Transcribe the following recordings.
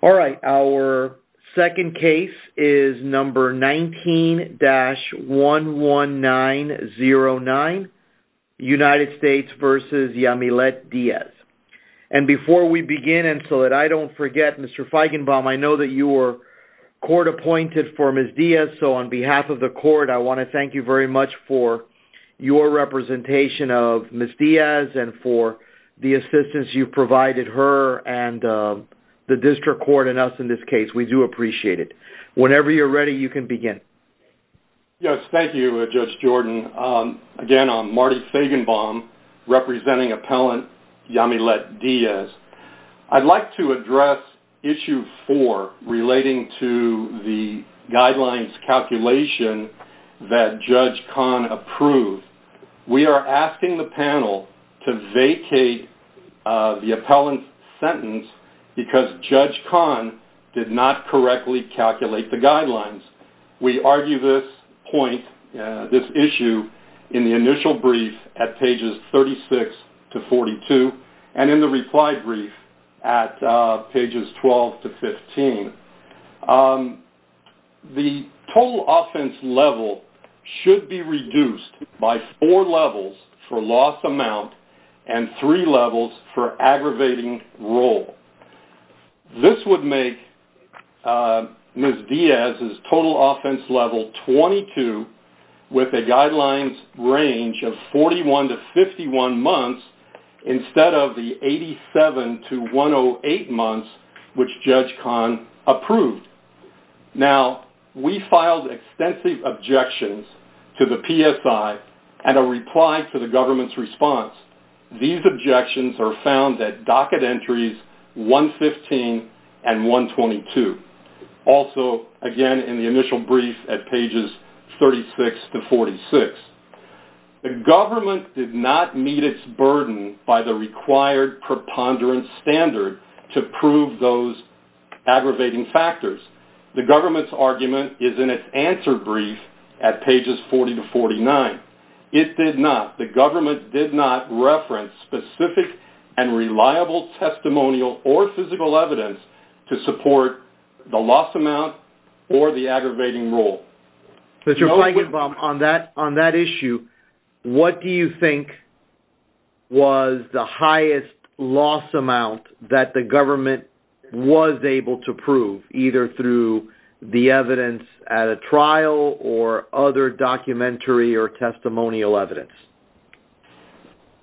All right, our second case is number 19-11909, United States v. Yamilet Diaz. And before we begin, and so that I don't forget, Mr. Feigenbaum, I know that you were court-appointed for Ms. Diaz, so on behalf of the court, I want to thank you very much for your representation of Ms. Diaz and for the assistance you've provided her and the district court and us in this case. We do appreciate it. Whenever you're ready, you can begin. Yes, thank you, Judge Jordan. Again, I'm Marty Feigenbaum, representing appellant Yamilet Diaz. I'd like to address issue 4 relating to the guidelines calculation that Judge Kahn approved. We are asking the panel to vacate the appellant's sentence because Judge Kahn did not correctly calculate the guidelines. We argue this point, this issue, in the initial brief at pages 36-42 and in the reply brief at pages 12-15. The total offense level should be reduced by four levels for loss amount and three levels for aggravating role. This would make Ms. Diaz's total offense level 22 with a guidelines range of 41-51 months instead of the 87-108 months which Judge Kahn approved. Now, we filed extensive objections to the PSI and a reply to the government's response. These objections are found at docket entries 115 and 122, also, again, in the initial brief at pages 36-46. The government did not meet its burden by the required preponderance standard to prove those aggravating factors. The government's argument is in its answer brief at pages 40-49. It did not, the government did not reference specific and reliable testimonial or physical evidence to support the loss amount or the aggravating role. Mr. Feigenbaum, on that issue, what do you think was the highest loss amount that the government was able to prove, either through the evidence at a trial or other documentary or testimonial evidence?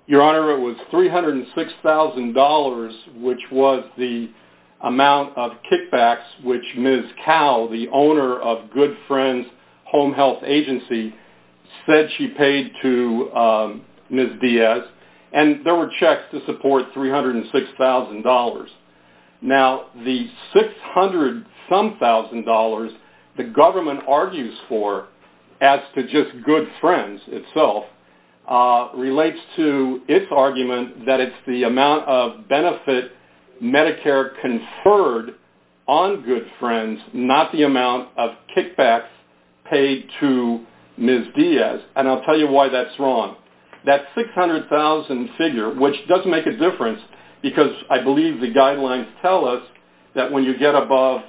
Your Honor, it was $306,000 which was the amount of kickbacks which Ms. Cowell, the owner of Good Friends Home Health Agency, said she paid to Ms. Diaz. And there were checks to support $306,000. Now, the $600-some-thousand the government argues for as to just Good Friends itself relates to its argument that it's the amount of benefit Medicare conferred on Good Friends, not the amount of kickbacks paid to Ms. Diaz. And I'll tell you why that's wrong. That $600,000 figure, which does make a difference because I believe the guidelines tell us that when you get above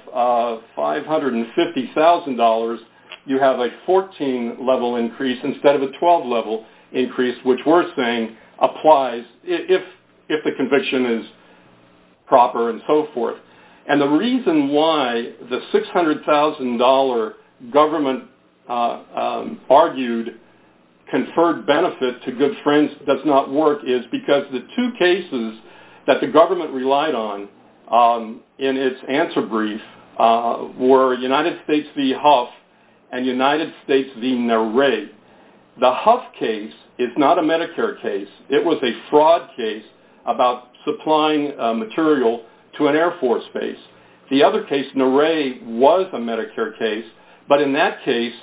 $550,000, you have a 14-level increase instead of a 12-level increase, which we're saying applies if the conviction is proper and so forth. And the reason why the $600,000 government argued conferred benefit to Good Friends does not work is because the two cases that the government relied on in its answer brief were United States v. Huff and United States v. Nare. The Huff case is not a Medicare case. It was a fraud case about supplying material to an Air Force base. The other case, Nare, was a Medicare case. But in that case,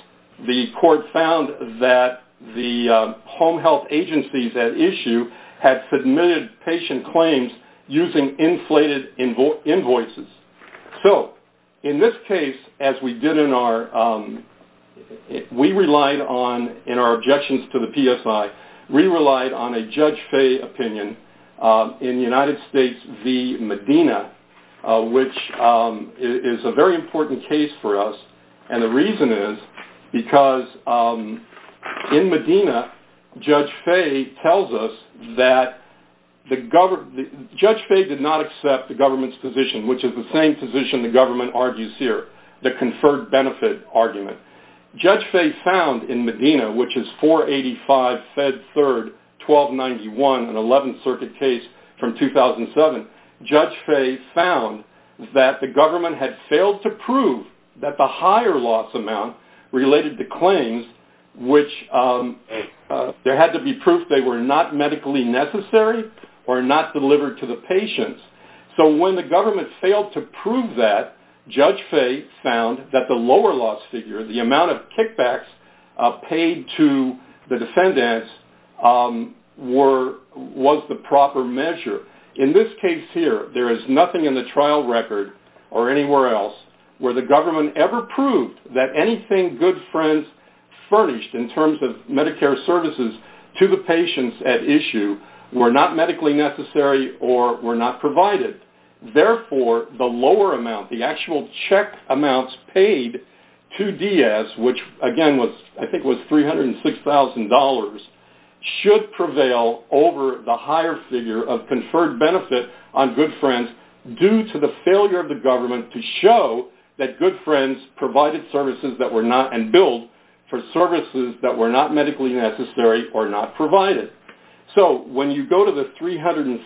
the court found that the home health agencies at issue had submitted patient claims using inflated invoices. So in this case, as we did in our objections to the PSI, we relied on a Judge Faye opinion in United States v. Medina, which is a very important case for us. And the reason is because in Medina, Judge Faye tells us that Judge Faye did not accept the government's position, which is the same position the government argues here, the conferred benefit argument. Judge Faye found in Medina, which is 485 Fed 3rd 1291, an 11th Circuit case from 2007, Judge Faye found that the government had failed to prove that the higher loss amount related to claims, which there had to be proof they were not medically necessary or not delivered to the patients. So when the government failed to prove that, Judge Faye found that the lower loss figure, the amount of kickbacks paid to the defendants, was the proper measure. In this case here, there is nothing in the trial record or anywhere else where the government ever proved that anything Good Friends furnished in terms of Medicare services to the patients at issue were not medically necessary or were not provided. Therefore, the lower amount, the actual check amounts paid to DS, which again I think was $306,000, should prevail over the higher figure of conferred benefit on Good Friends due to the failure of the government to show that Good Friends provided services that were not and billed for services that were not medically necessary or not provided. So when you go to the $306,000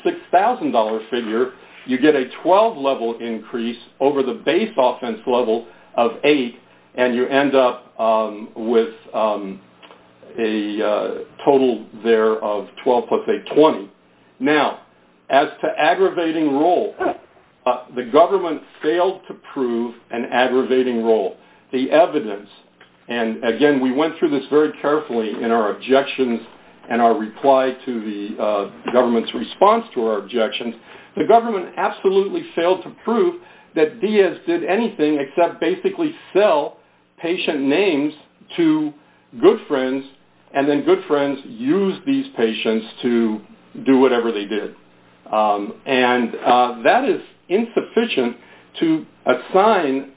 figure, you get a 12-level increase over the base offense level of 8, and you end up with a total there of 12 plus 8, 20. Now, as to aggravating role, the government failed to prove an aggravating role. The evidence, and again we went through this very carefully in our objections and our reply to the government's response to our objections, the government absolutely failed to prove that DS did anything except basically sell patient names to Good Friends, and then Good Friends used these patients to do whatever they did. And that is insufficient to assign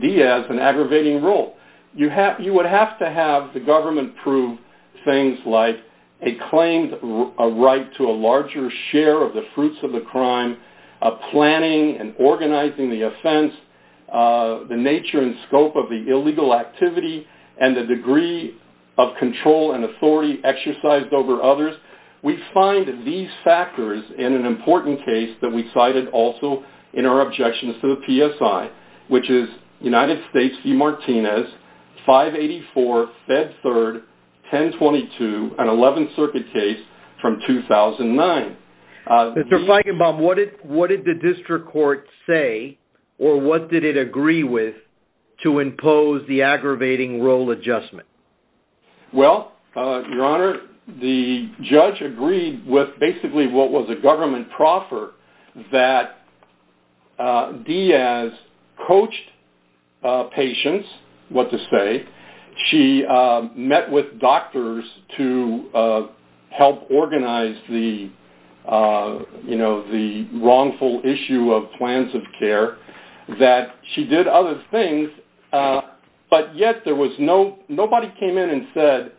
DS an aggravating role. You would have to have the government prove things like a claimed right to a larger share of the fruits of the crime, a planning and organizing the offense, the nature and scope of the illegal activity, and the degree of control and authority exercised over others. We find these factors in an important case that we cited also in our objections to the PSI, which is United States v. Martinez, 584, Fed 3rd, 1022, an 11th Circuit case from 2009. Mr. Feigenbaum, what did the district court say or what did it agree with to impose the aggravating role adjustment? Well, Your Honor, the judge agreed with basically what was a government proffer that DS coached patients, what to say, she met with doctors to help organize the wrongful issue of plans of care, that she did other things, but yet nobody came in and said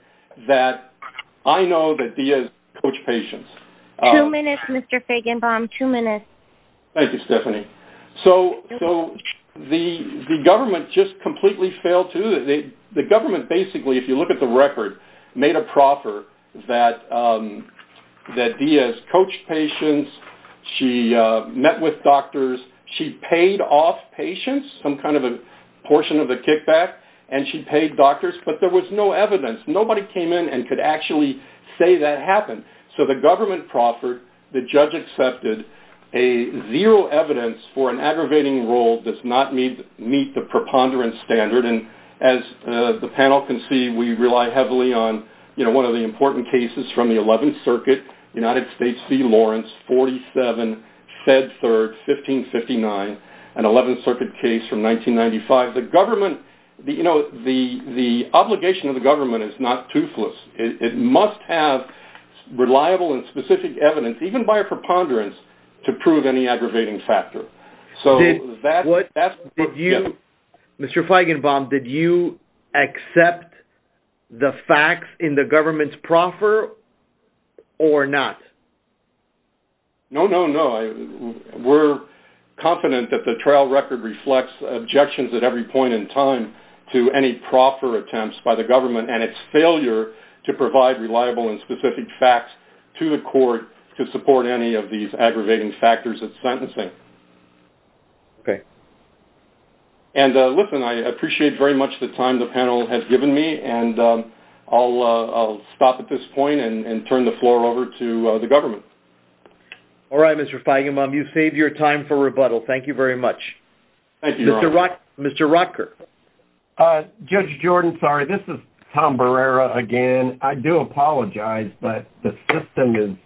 that I know that DS coached patients. Two minutes, Mr. Feigenbaum, two minutes. Thank you, Stephanie. So the government just completely failed too. The government basically, if you look at the record, made a proffer that DS coached patients, she met with doctors, she paid off patients, some kind of a portion of the kickback, and she paid doctors, but there was no evidence. Nobody came in and could actually say that happened. So the government proffered, the judge accepted, a zero evidence for an aggravating role does not meet the preponderance standard, and as the panel can see, we rely heavily on one of the important cases from the 11th Circuit, United States v. Lawrence, 47, Fed Third, 1559, an 11th Circuit case from 1995. The government, you know, the obligation of the government is not toothless. It must have reliable and specific evidence, even by a preponderance, to prove any aggravating factor. Mr. Feigenbaum, did you accept the facts in the government's proffer or not? No, no, no. We're confident that the trial record reflects objections at every point in time to any proffer attempts by the government and its failure to provide reliable and specific facts to the court to support any of these aggravating factors of sentencing. Okay. And listen, I appreciate very much the time the panel has given me, and I'll stop at this point and turn the floor over to the government. All right, Mr. Feigenbaum, you've saved your time for rebuttal. Thank you very much. Thank you, Your Honor. Mr. Rotker. Judge Jordan, sorry, this is Tom Barrera again. I do apologize, but the system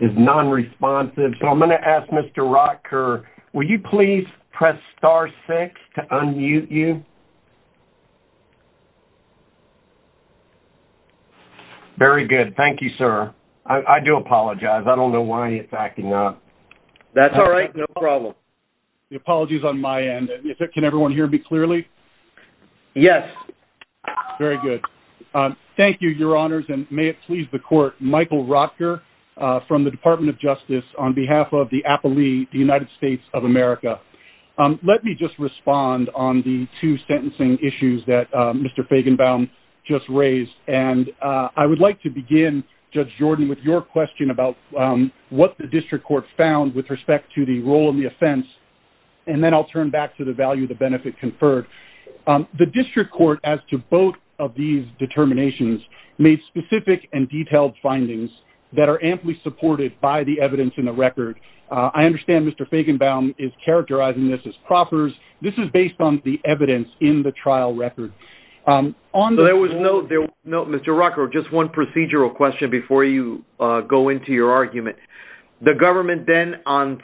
is nonresponsive, so I'm going to ask Mr. Rotker, will you please press star six to unmute you? Very good. Thank you, sir. I do apologize. I don't know why it's acting up. That's all right. No problem. The apology is on my end. Can everyone hear me clearly? Yes. Very good. Thank you, Your Honors, and may it please the court, Michael Rotker from the Department of Justice, on behalf of the Appalee, the United States of America. Let me just respond on the two sentencing issues that Mr. Feigenbaum just raised, and I would like to begin, Judge Jordan, with your question about what the district court found with respect to the role in the offense, and then I'll turn back to the value of the benefit conferred. The district court, as to both of these determinations, made specific and detailed findings that are amply supported by the evidence in the record. I understand Mr. Feigenbaum is characterizing this as proffers. This is based on the evidence in the trial record. So there was no, Mr. Rotker, just one procedural question before you go into your argument. The government then,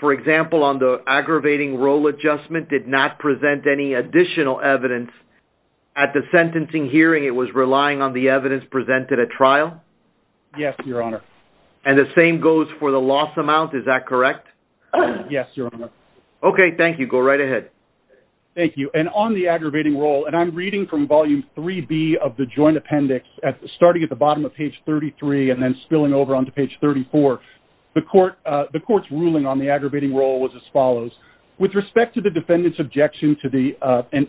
for example, on the aggravating role adjustment, did not present any additional evidence. At the sentencing hearing, it was relying on the evidence presented at trial? Yes, Your Honor. And the same goes for the loss amount, is that correct? Yes, Your Honor. Okay, thank you. Go right ahead. Thank you. And on the aggravating role, and I'm reading from volume 3B of the joint appendix, starting at the bottom of page 33 and then spilling over onto page 34, the court's ruling on the aggravating role was as follows. With respect to the defendant's objection to the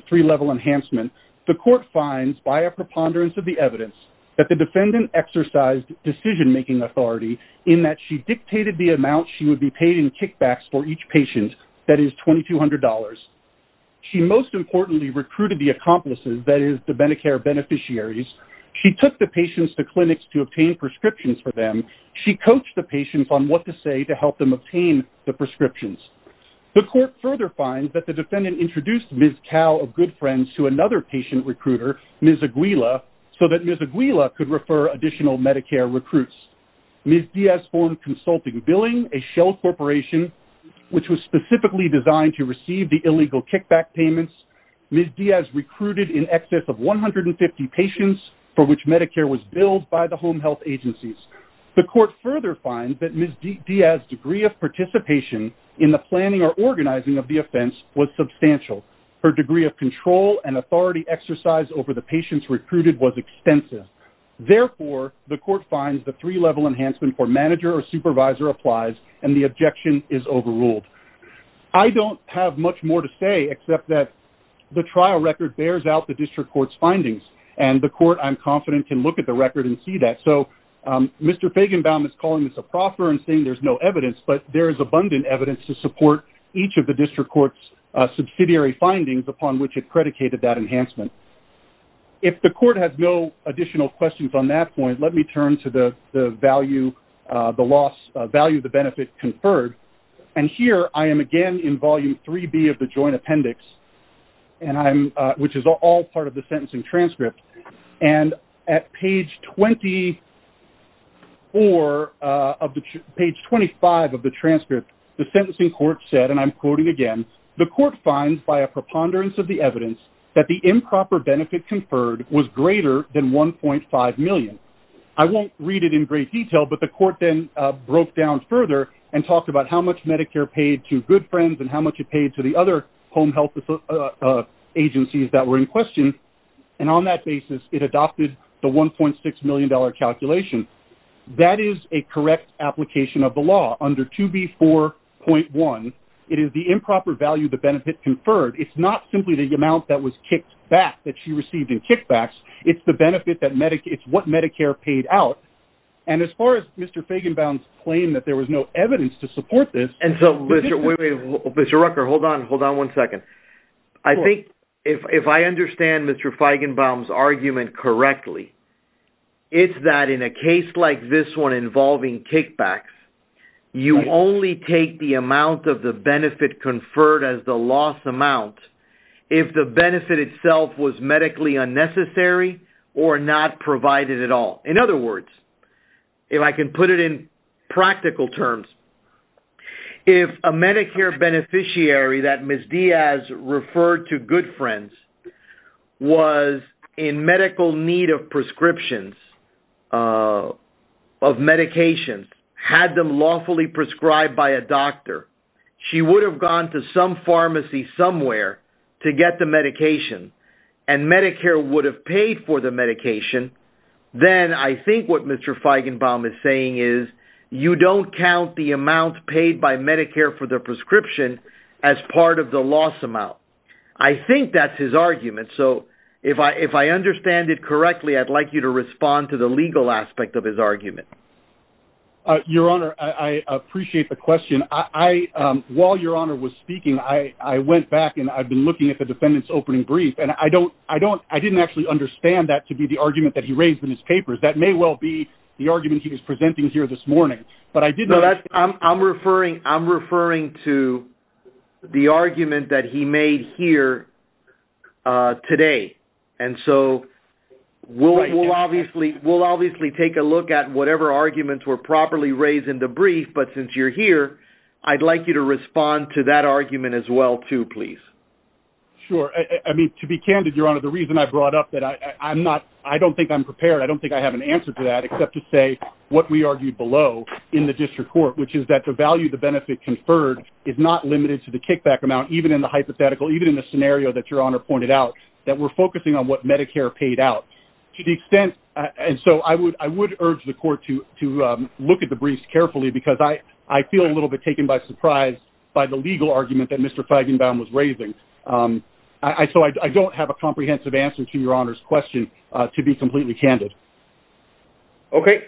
three-level enhancement, the court finds, by a preponderance of the evidence, that the defendant exercised decision-making authority in that she dictated the amount she would be paid in kickbacks for each patient, that is $2,200. She most importantly recruited the accomplices, that is, the Medicare beneficiaries. She took the patients to clinics to obtain prescriptions for them. She coached the patients on what to say to help them obtain the prescriptions. The court further finds that the defendant introduced Ms. Cao of Good Friends to another patient recruiter, Ms. Aguila, so that Ms. Aguila could refer additional Medicare recruits. Ms. Diaz formed consulting billing, a shell corporation, which was specifically designed to receive the illegal kickback payments. Ms. Diaz recruited in excess of 150 patients for which Medicare was billed by the home health agencies. The court further finds that Ms. Diaz's degree of participation in the planning or organizing of the offense was substantial. Her degree of control and authority exercised over the patients recruited was extensive. Therefore, the court finds the three-level enhancement for manager or supervisor applies, and the objection is overruled. I don't have much more to say except that the trial record bears out the district court's findings, and the court, I'm confident, can look at the record and see that. So Mr. Fagenbaum is calling this a proffer and saying there's no evidence, but there is abundant evidence to support each of the district court's subsidiary findings upon which it predicated that enhancement. If the court has no additional questions on that point, let me turn to the value of the benefit conferred. And here I am again in Volume 3B of the Joint Appendix, which is all part of the sentencing transcript. And at page 24 of the ‑‑ page 25 of the transcript, the sentencing court said, and I'm quoting again, the court finds by a preponderance of the evidence that the improper benefit conferred was greater than $1.5 million. I won't read it in great detail, but the court then broke down further and talked about how much Medicare paid to Good Friends and how much it paid to the other home health agencies that were in question, and on that basis it adopted the $1.6 million calculation. That is a correct application of the law under 2B4.1. It is the improper value of the benefit conferred. It's not simply the amount that was kicked back, that she received in kickbacks. It's the benefit that Medicare ‑‑ it's what Medicare paid out. And as far as Mr. Feigenbaum's claim that there was no evidence to support this ‑‑ And so, Mr. Rucker, hold on, hold on one second. I think if I understand Mr. Feigenbaum's argument correctly, it's that in a case like this one involving kickbacks, you only take the amount of the benefit conferred as the loss amount if the benefit itself was medically unnecessary or not provided at all. In other words, if I can put it in practical terms, if a Medicare beneficiary that Ms. Diaz referred to Good Friends was in medical need of prescriptions, of medications, had them lawfully prescribed by a doctor, she would have gone to some pharmacy somewhere to get the medication and Medicare would have paid for the medication, then I think what Mr. Feigenbaum is saying is you don't count the amount paid by Medicare for the prescription as part of the loss amount. I think that's his argument. So if I understand it correctly, I'd like you to respond to the legal aspect of his argument. Your Honor, I appreciate the question. While Your Honor was speaking, I went back and I've been looking at the defendant's opening brief and I didn't actually understand that to be the argument that he raised in his papers. That may well be the argument he was presenting here this morning. I'm referring to the argument that he made here today. And so we'll obviously take a look at whatever arguments were properly raised in the brief, but since you're here, I'd like you to respond to that argument as well, too, please. Sure. I mean, to be candid, Your Honor, the reason I brought up that, I don't think I'm prepared, I don't think I have an answer to that, except to say what we argued below in the district court, which is that the value of the benefit conferred is not limited to the kickback amount, even in the hypothetical, even in the scenario that Your Honor pointed out, that we're focusing on what Medicare paid out. And so I would urge the court to look at the briefs carefully because I feel a little bit taken by surprise by the legal argument that Mr. Feigenbaum was raising. So I don't have a comprehensive answer to Your Honor's question, to be completely candid. Okay.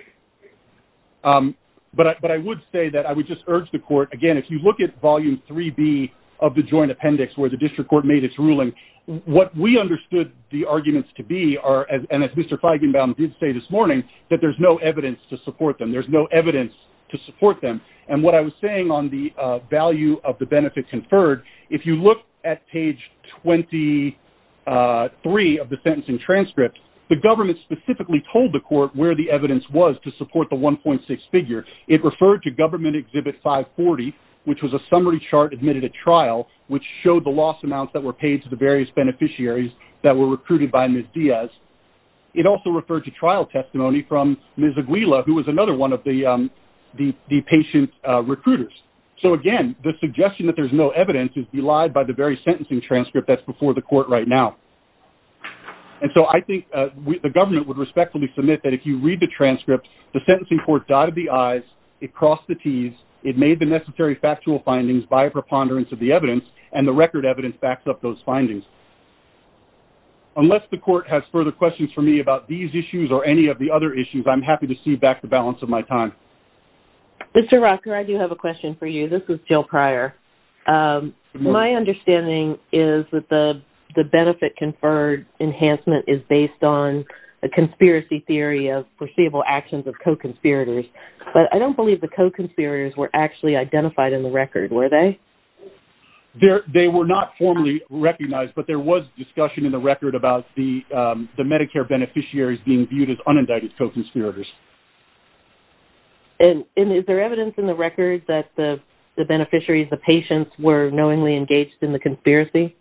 But I would say that I would just urge the court, again, if you look at volume 3B of the joint appendix where the district court made its ruling, what we understood the arguments to be are, and as Mr. Feigenbaum did say this morning, that there's no evidence to support them. And what I was saying on the value of the benefit conferred, if you look at page 23 of the sentencing transcript, the government specifically told the court where the evidence was to support the 1.6 figure. It referred to government exhibit 540, which was a summary chart admitted at trial, which showed the loss amounts that were paid to the various beneficiaries that were recruited by Ms. Diaz. It also referred to trial testimony from Ms. Aguila, who was another one of the patient recruiters. So, again, the suggestion that there's no evidence is belied by the very sentencing transcript that's before the court right now. And so I think the government would respectfully submit that if you read the transcript, the sentencing court dotted the I's, it crossed the T's, it made the necessary factual findings by preponderance of the evidence, and the record evidence backs up those findings. Unless the court has further questions for me about these issues or any of the other issues, I'm happy to see back the balance of my time. Mr. Rocker, I do have a question for you. This is Jill Pryor. My understanding is that the benefit conferred enhancement is based on a conspiracy theory of foreseeable actions of co-conspirators. But I don't believe the co-conspirators were actually identified in the record, were they? They were not formally recognized, but there was discussion in the record about the Medicare beneficiaries being viewed as unindicted co-conspirators. And is there evidence in the record that the beneficiaries, the patients, were knowingly engaged in the conspiracy?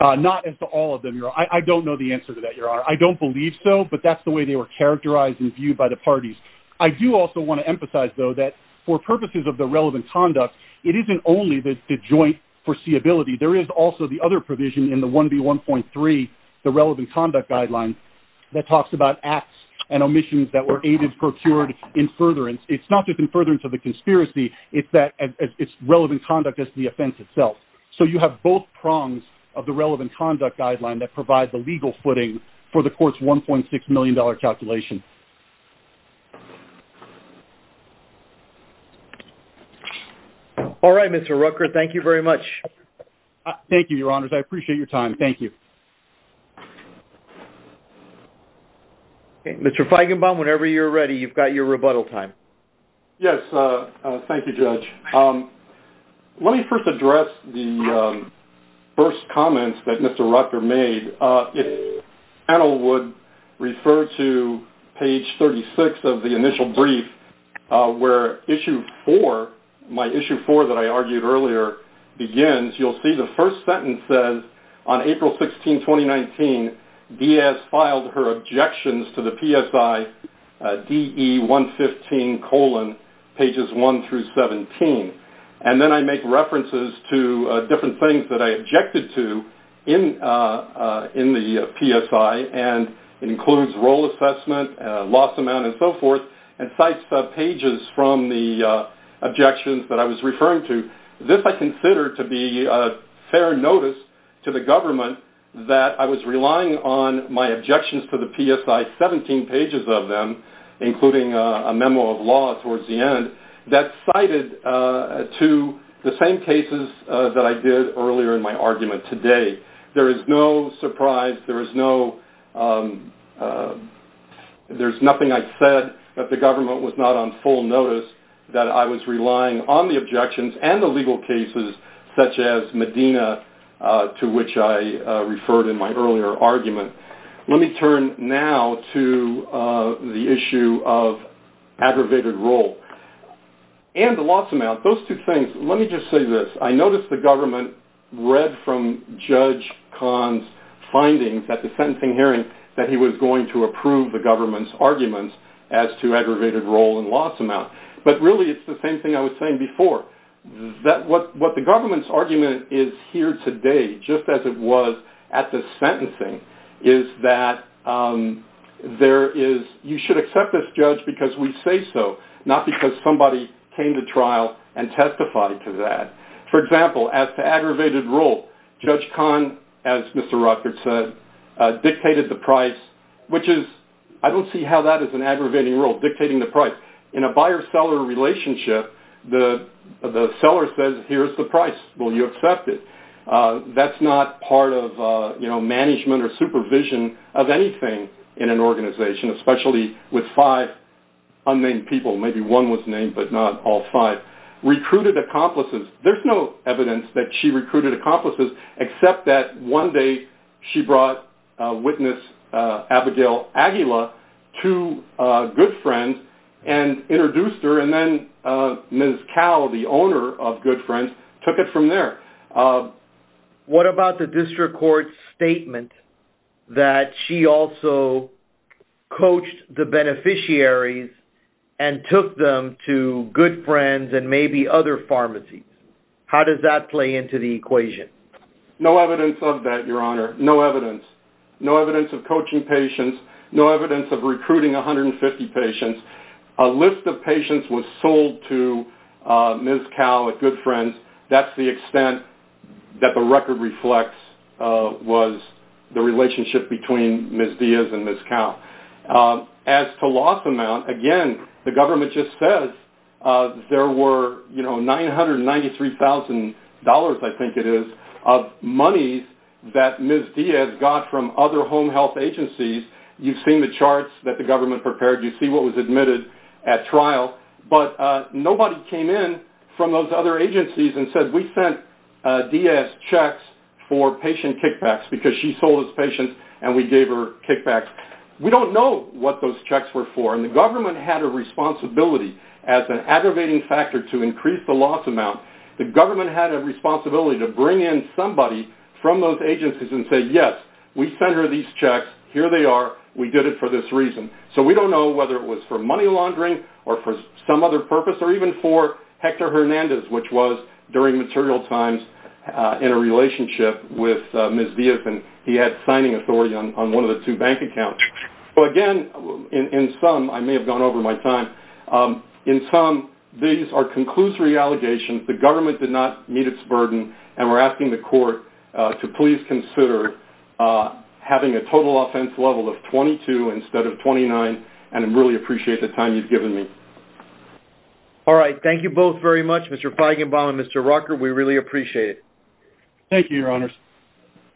Not as to all of them, Your Honor. I don't know the answer to that, Your Honor. I don't believe so, but that's the way they were characterized and viewed by the parties. I do also want to emphasize, though, that for purposes of the relevant conduct, it isn't only the joint foreseeability. There is also the other provision in the 1B1.3, the relevant conduct guideline, that talks about acts and omissions that were aided, procured, in furtherance. It's not just in furtherance of the conspiracy. It's relevant conduct as to the offense itself. So you have both prongs of the relevant conduct guideline that provide the legal footing for the court's $1.6 million calculation. All right, Mr. Rucker, thank you very much. Thank you, Your Honors. I appreciate your time. Thank you. Mr. Feigenbaum, whenever you're ready, you've got your rebuttal time. Yes. Thank you, Judge. Let me first address the first comments that Mr. Rucker made. If panel would refer to page 36 of the initial brief, where issue 4, my issue 4 that I argued earlier, begins, you'll see the first sentence says, On April 16, 2019, Diaz filed her objections to the PSI DE-115, pages 1 through 17. And then I make references to different things that I objected to in the PSI, and it includes role assessment, loss amount, and so forth, and cites pages from the objections that I was referring to. This I consider to be fair notice to the government that I was relying on my objections to the PSI, 17 pages of them, including a memo of law towards the end, that cited to the same cases that I did earlier in my argument today. There is no surprise. There's nothing I said that the government was not on full notice that I was relying on the objections and the legal cases, such as Medina, to which I referred in my earlier argument. Let me turn now to the issue of aggravated role and the loss amount. Those two things, let me just say this. I noticed the government read from Judge Kahn's findings at the sentencing hearing that he was going to approve the government's arguments as to aggravated role and loss amount. But really, it's the same thing I was saying before. What the government's argument is here today, just as it was at the sentencing, is that you should accept this judge because we say so, not because somebody came to trial and testified to that. For example, as to aggravated role, Judge Kahn, as Mr. Rutgers said, dictated the price, which is, I don't see how that is an aggravating role, dictating the price. In a buyer-seller relationship, the seller says, here's the price. Will you accept it? That's not part of management or supervision of anything in an organization, especially with five unnamed people. Maybe one was named, but not all five. Recruited accomplices. There's no evidence that she recruited accomplices, except that one day she brought witness Abigail Aguila to Good Friends and introduced her, and then Ms. Cal, the owner of Good Friends, took it from there. What about the district court's statement that she also coached the beneficiaries and took them to Good Friends and maybe other pharmacies? How does that play into the equation? No evidence of that, Your Honor. No evidence. No evidence of coaching patients. No evidence of recruiting 150 patients. A list of patients was sold to Ms. Cal at Good Friends. That's the extent that the record reflects was the relationship between Ms. Diaz and Ms. Cal. As to loss amount, again, the government just says there were $993,000, I think it is, of money that Ms. Diaz got from other home health agencies. You've seen the charts that the government prepared. You see what was admitted at trial. But nobody came in from those other agencies and said, We sent Diaz checks for patient kickbacks because she sold us patients and we gave her kickbacks. We don't know what those checks were for, and the government had a responsibility as an aggravating factor to increase the loss amount. The government had a responsibility to bring in somebody from those agencies and say, Yes, we sent her these checks. Here they are. We did it for this reason. So we don't know whether it was for money laundering or for some other purpose or even for Hector Hernandez, which was during material times in a relationship with Ms. Diaz, and he had signing authority on one of the two bank accounts. Again, in sum, I may have gone over my time. In sum, these are conclusory allegations. The government did not meet its burden, and we're asking the court to please consider having a total offense level of 22 instead of 29, and I really appreciate the time you've given me. All right. Thank you both very much, Mr. Feigenbaum and Mr. Rucker. We really appreciate it. Thank you, Your Honors.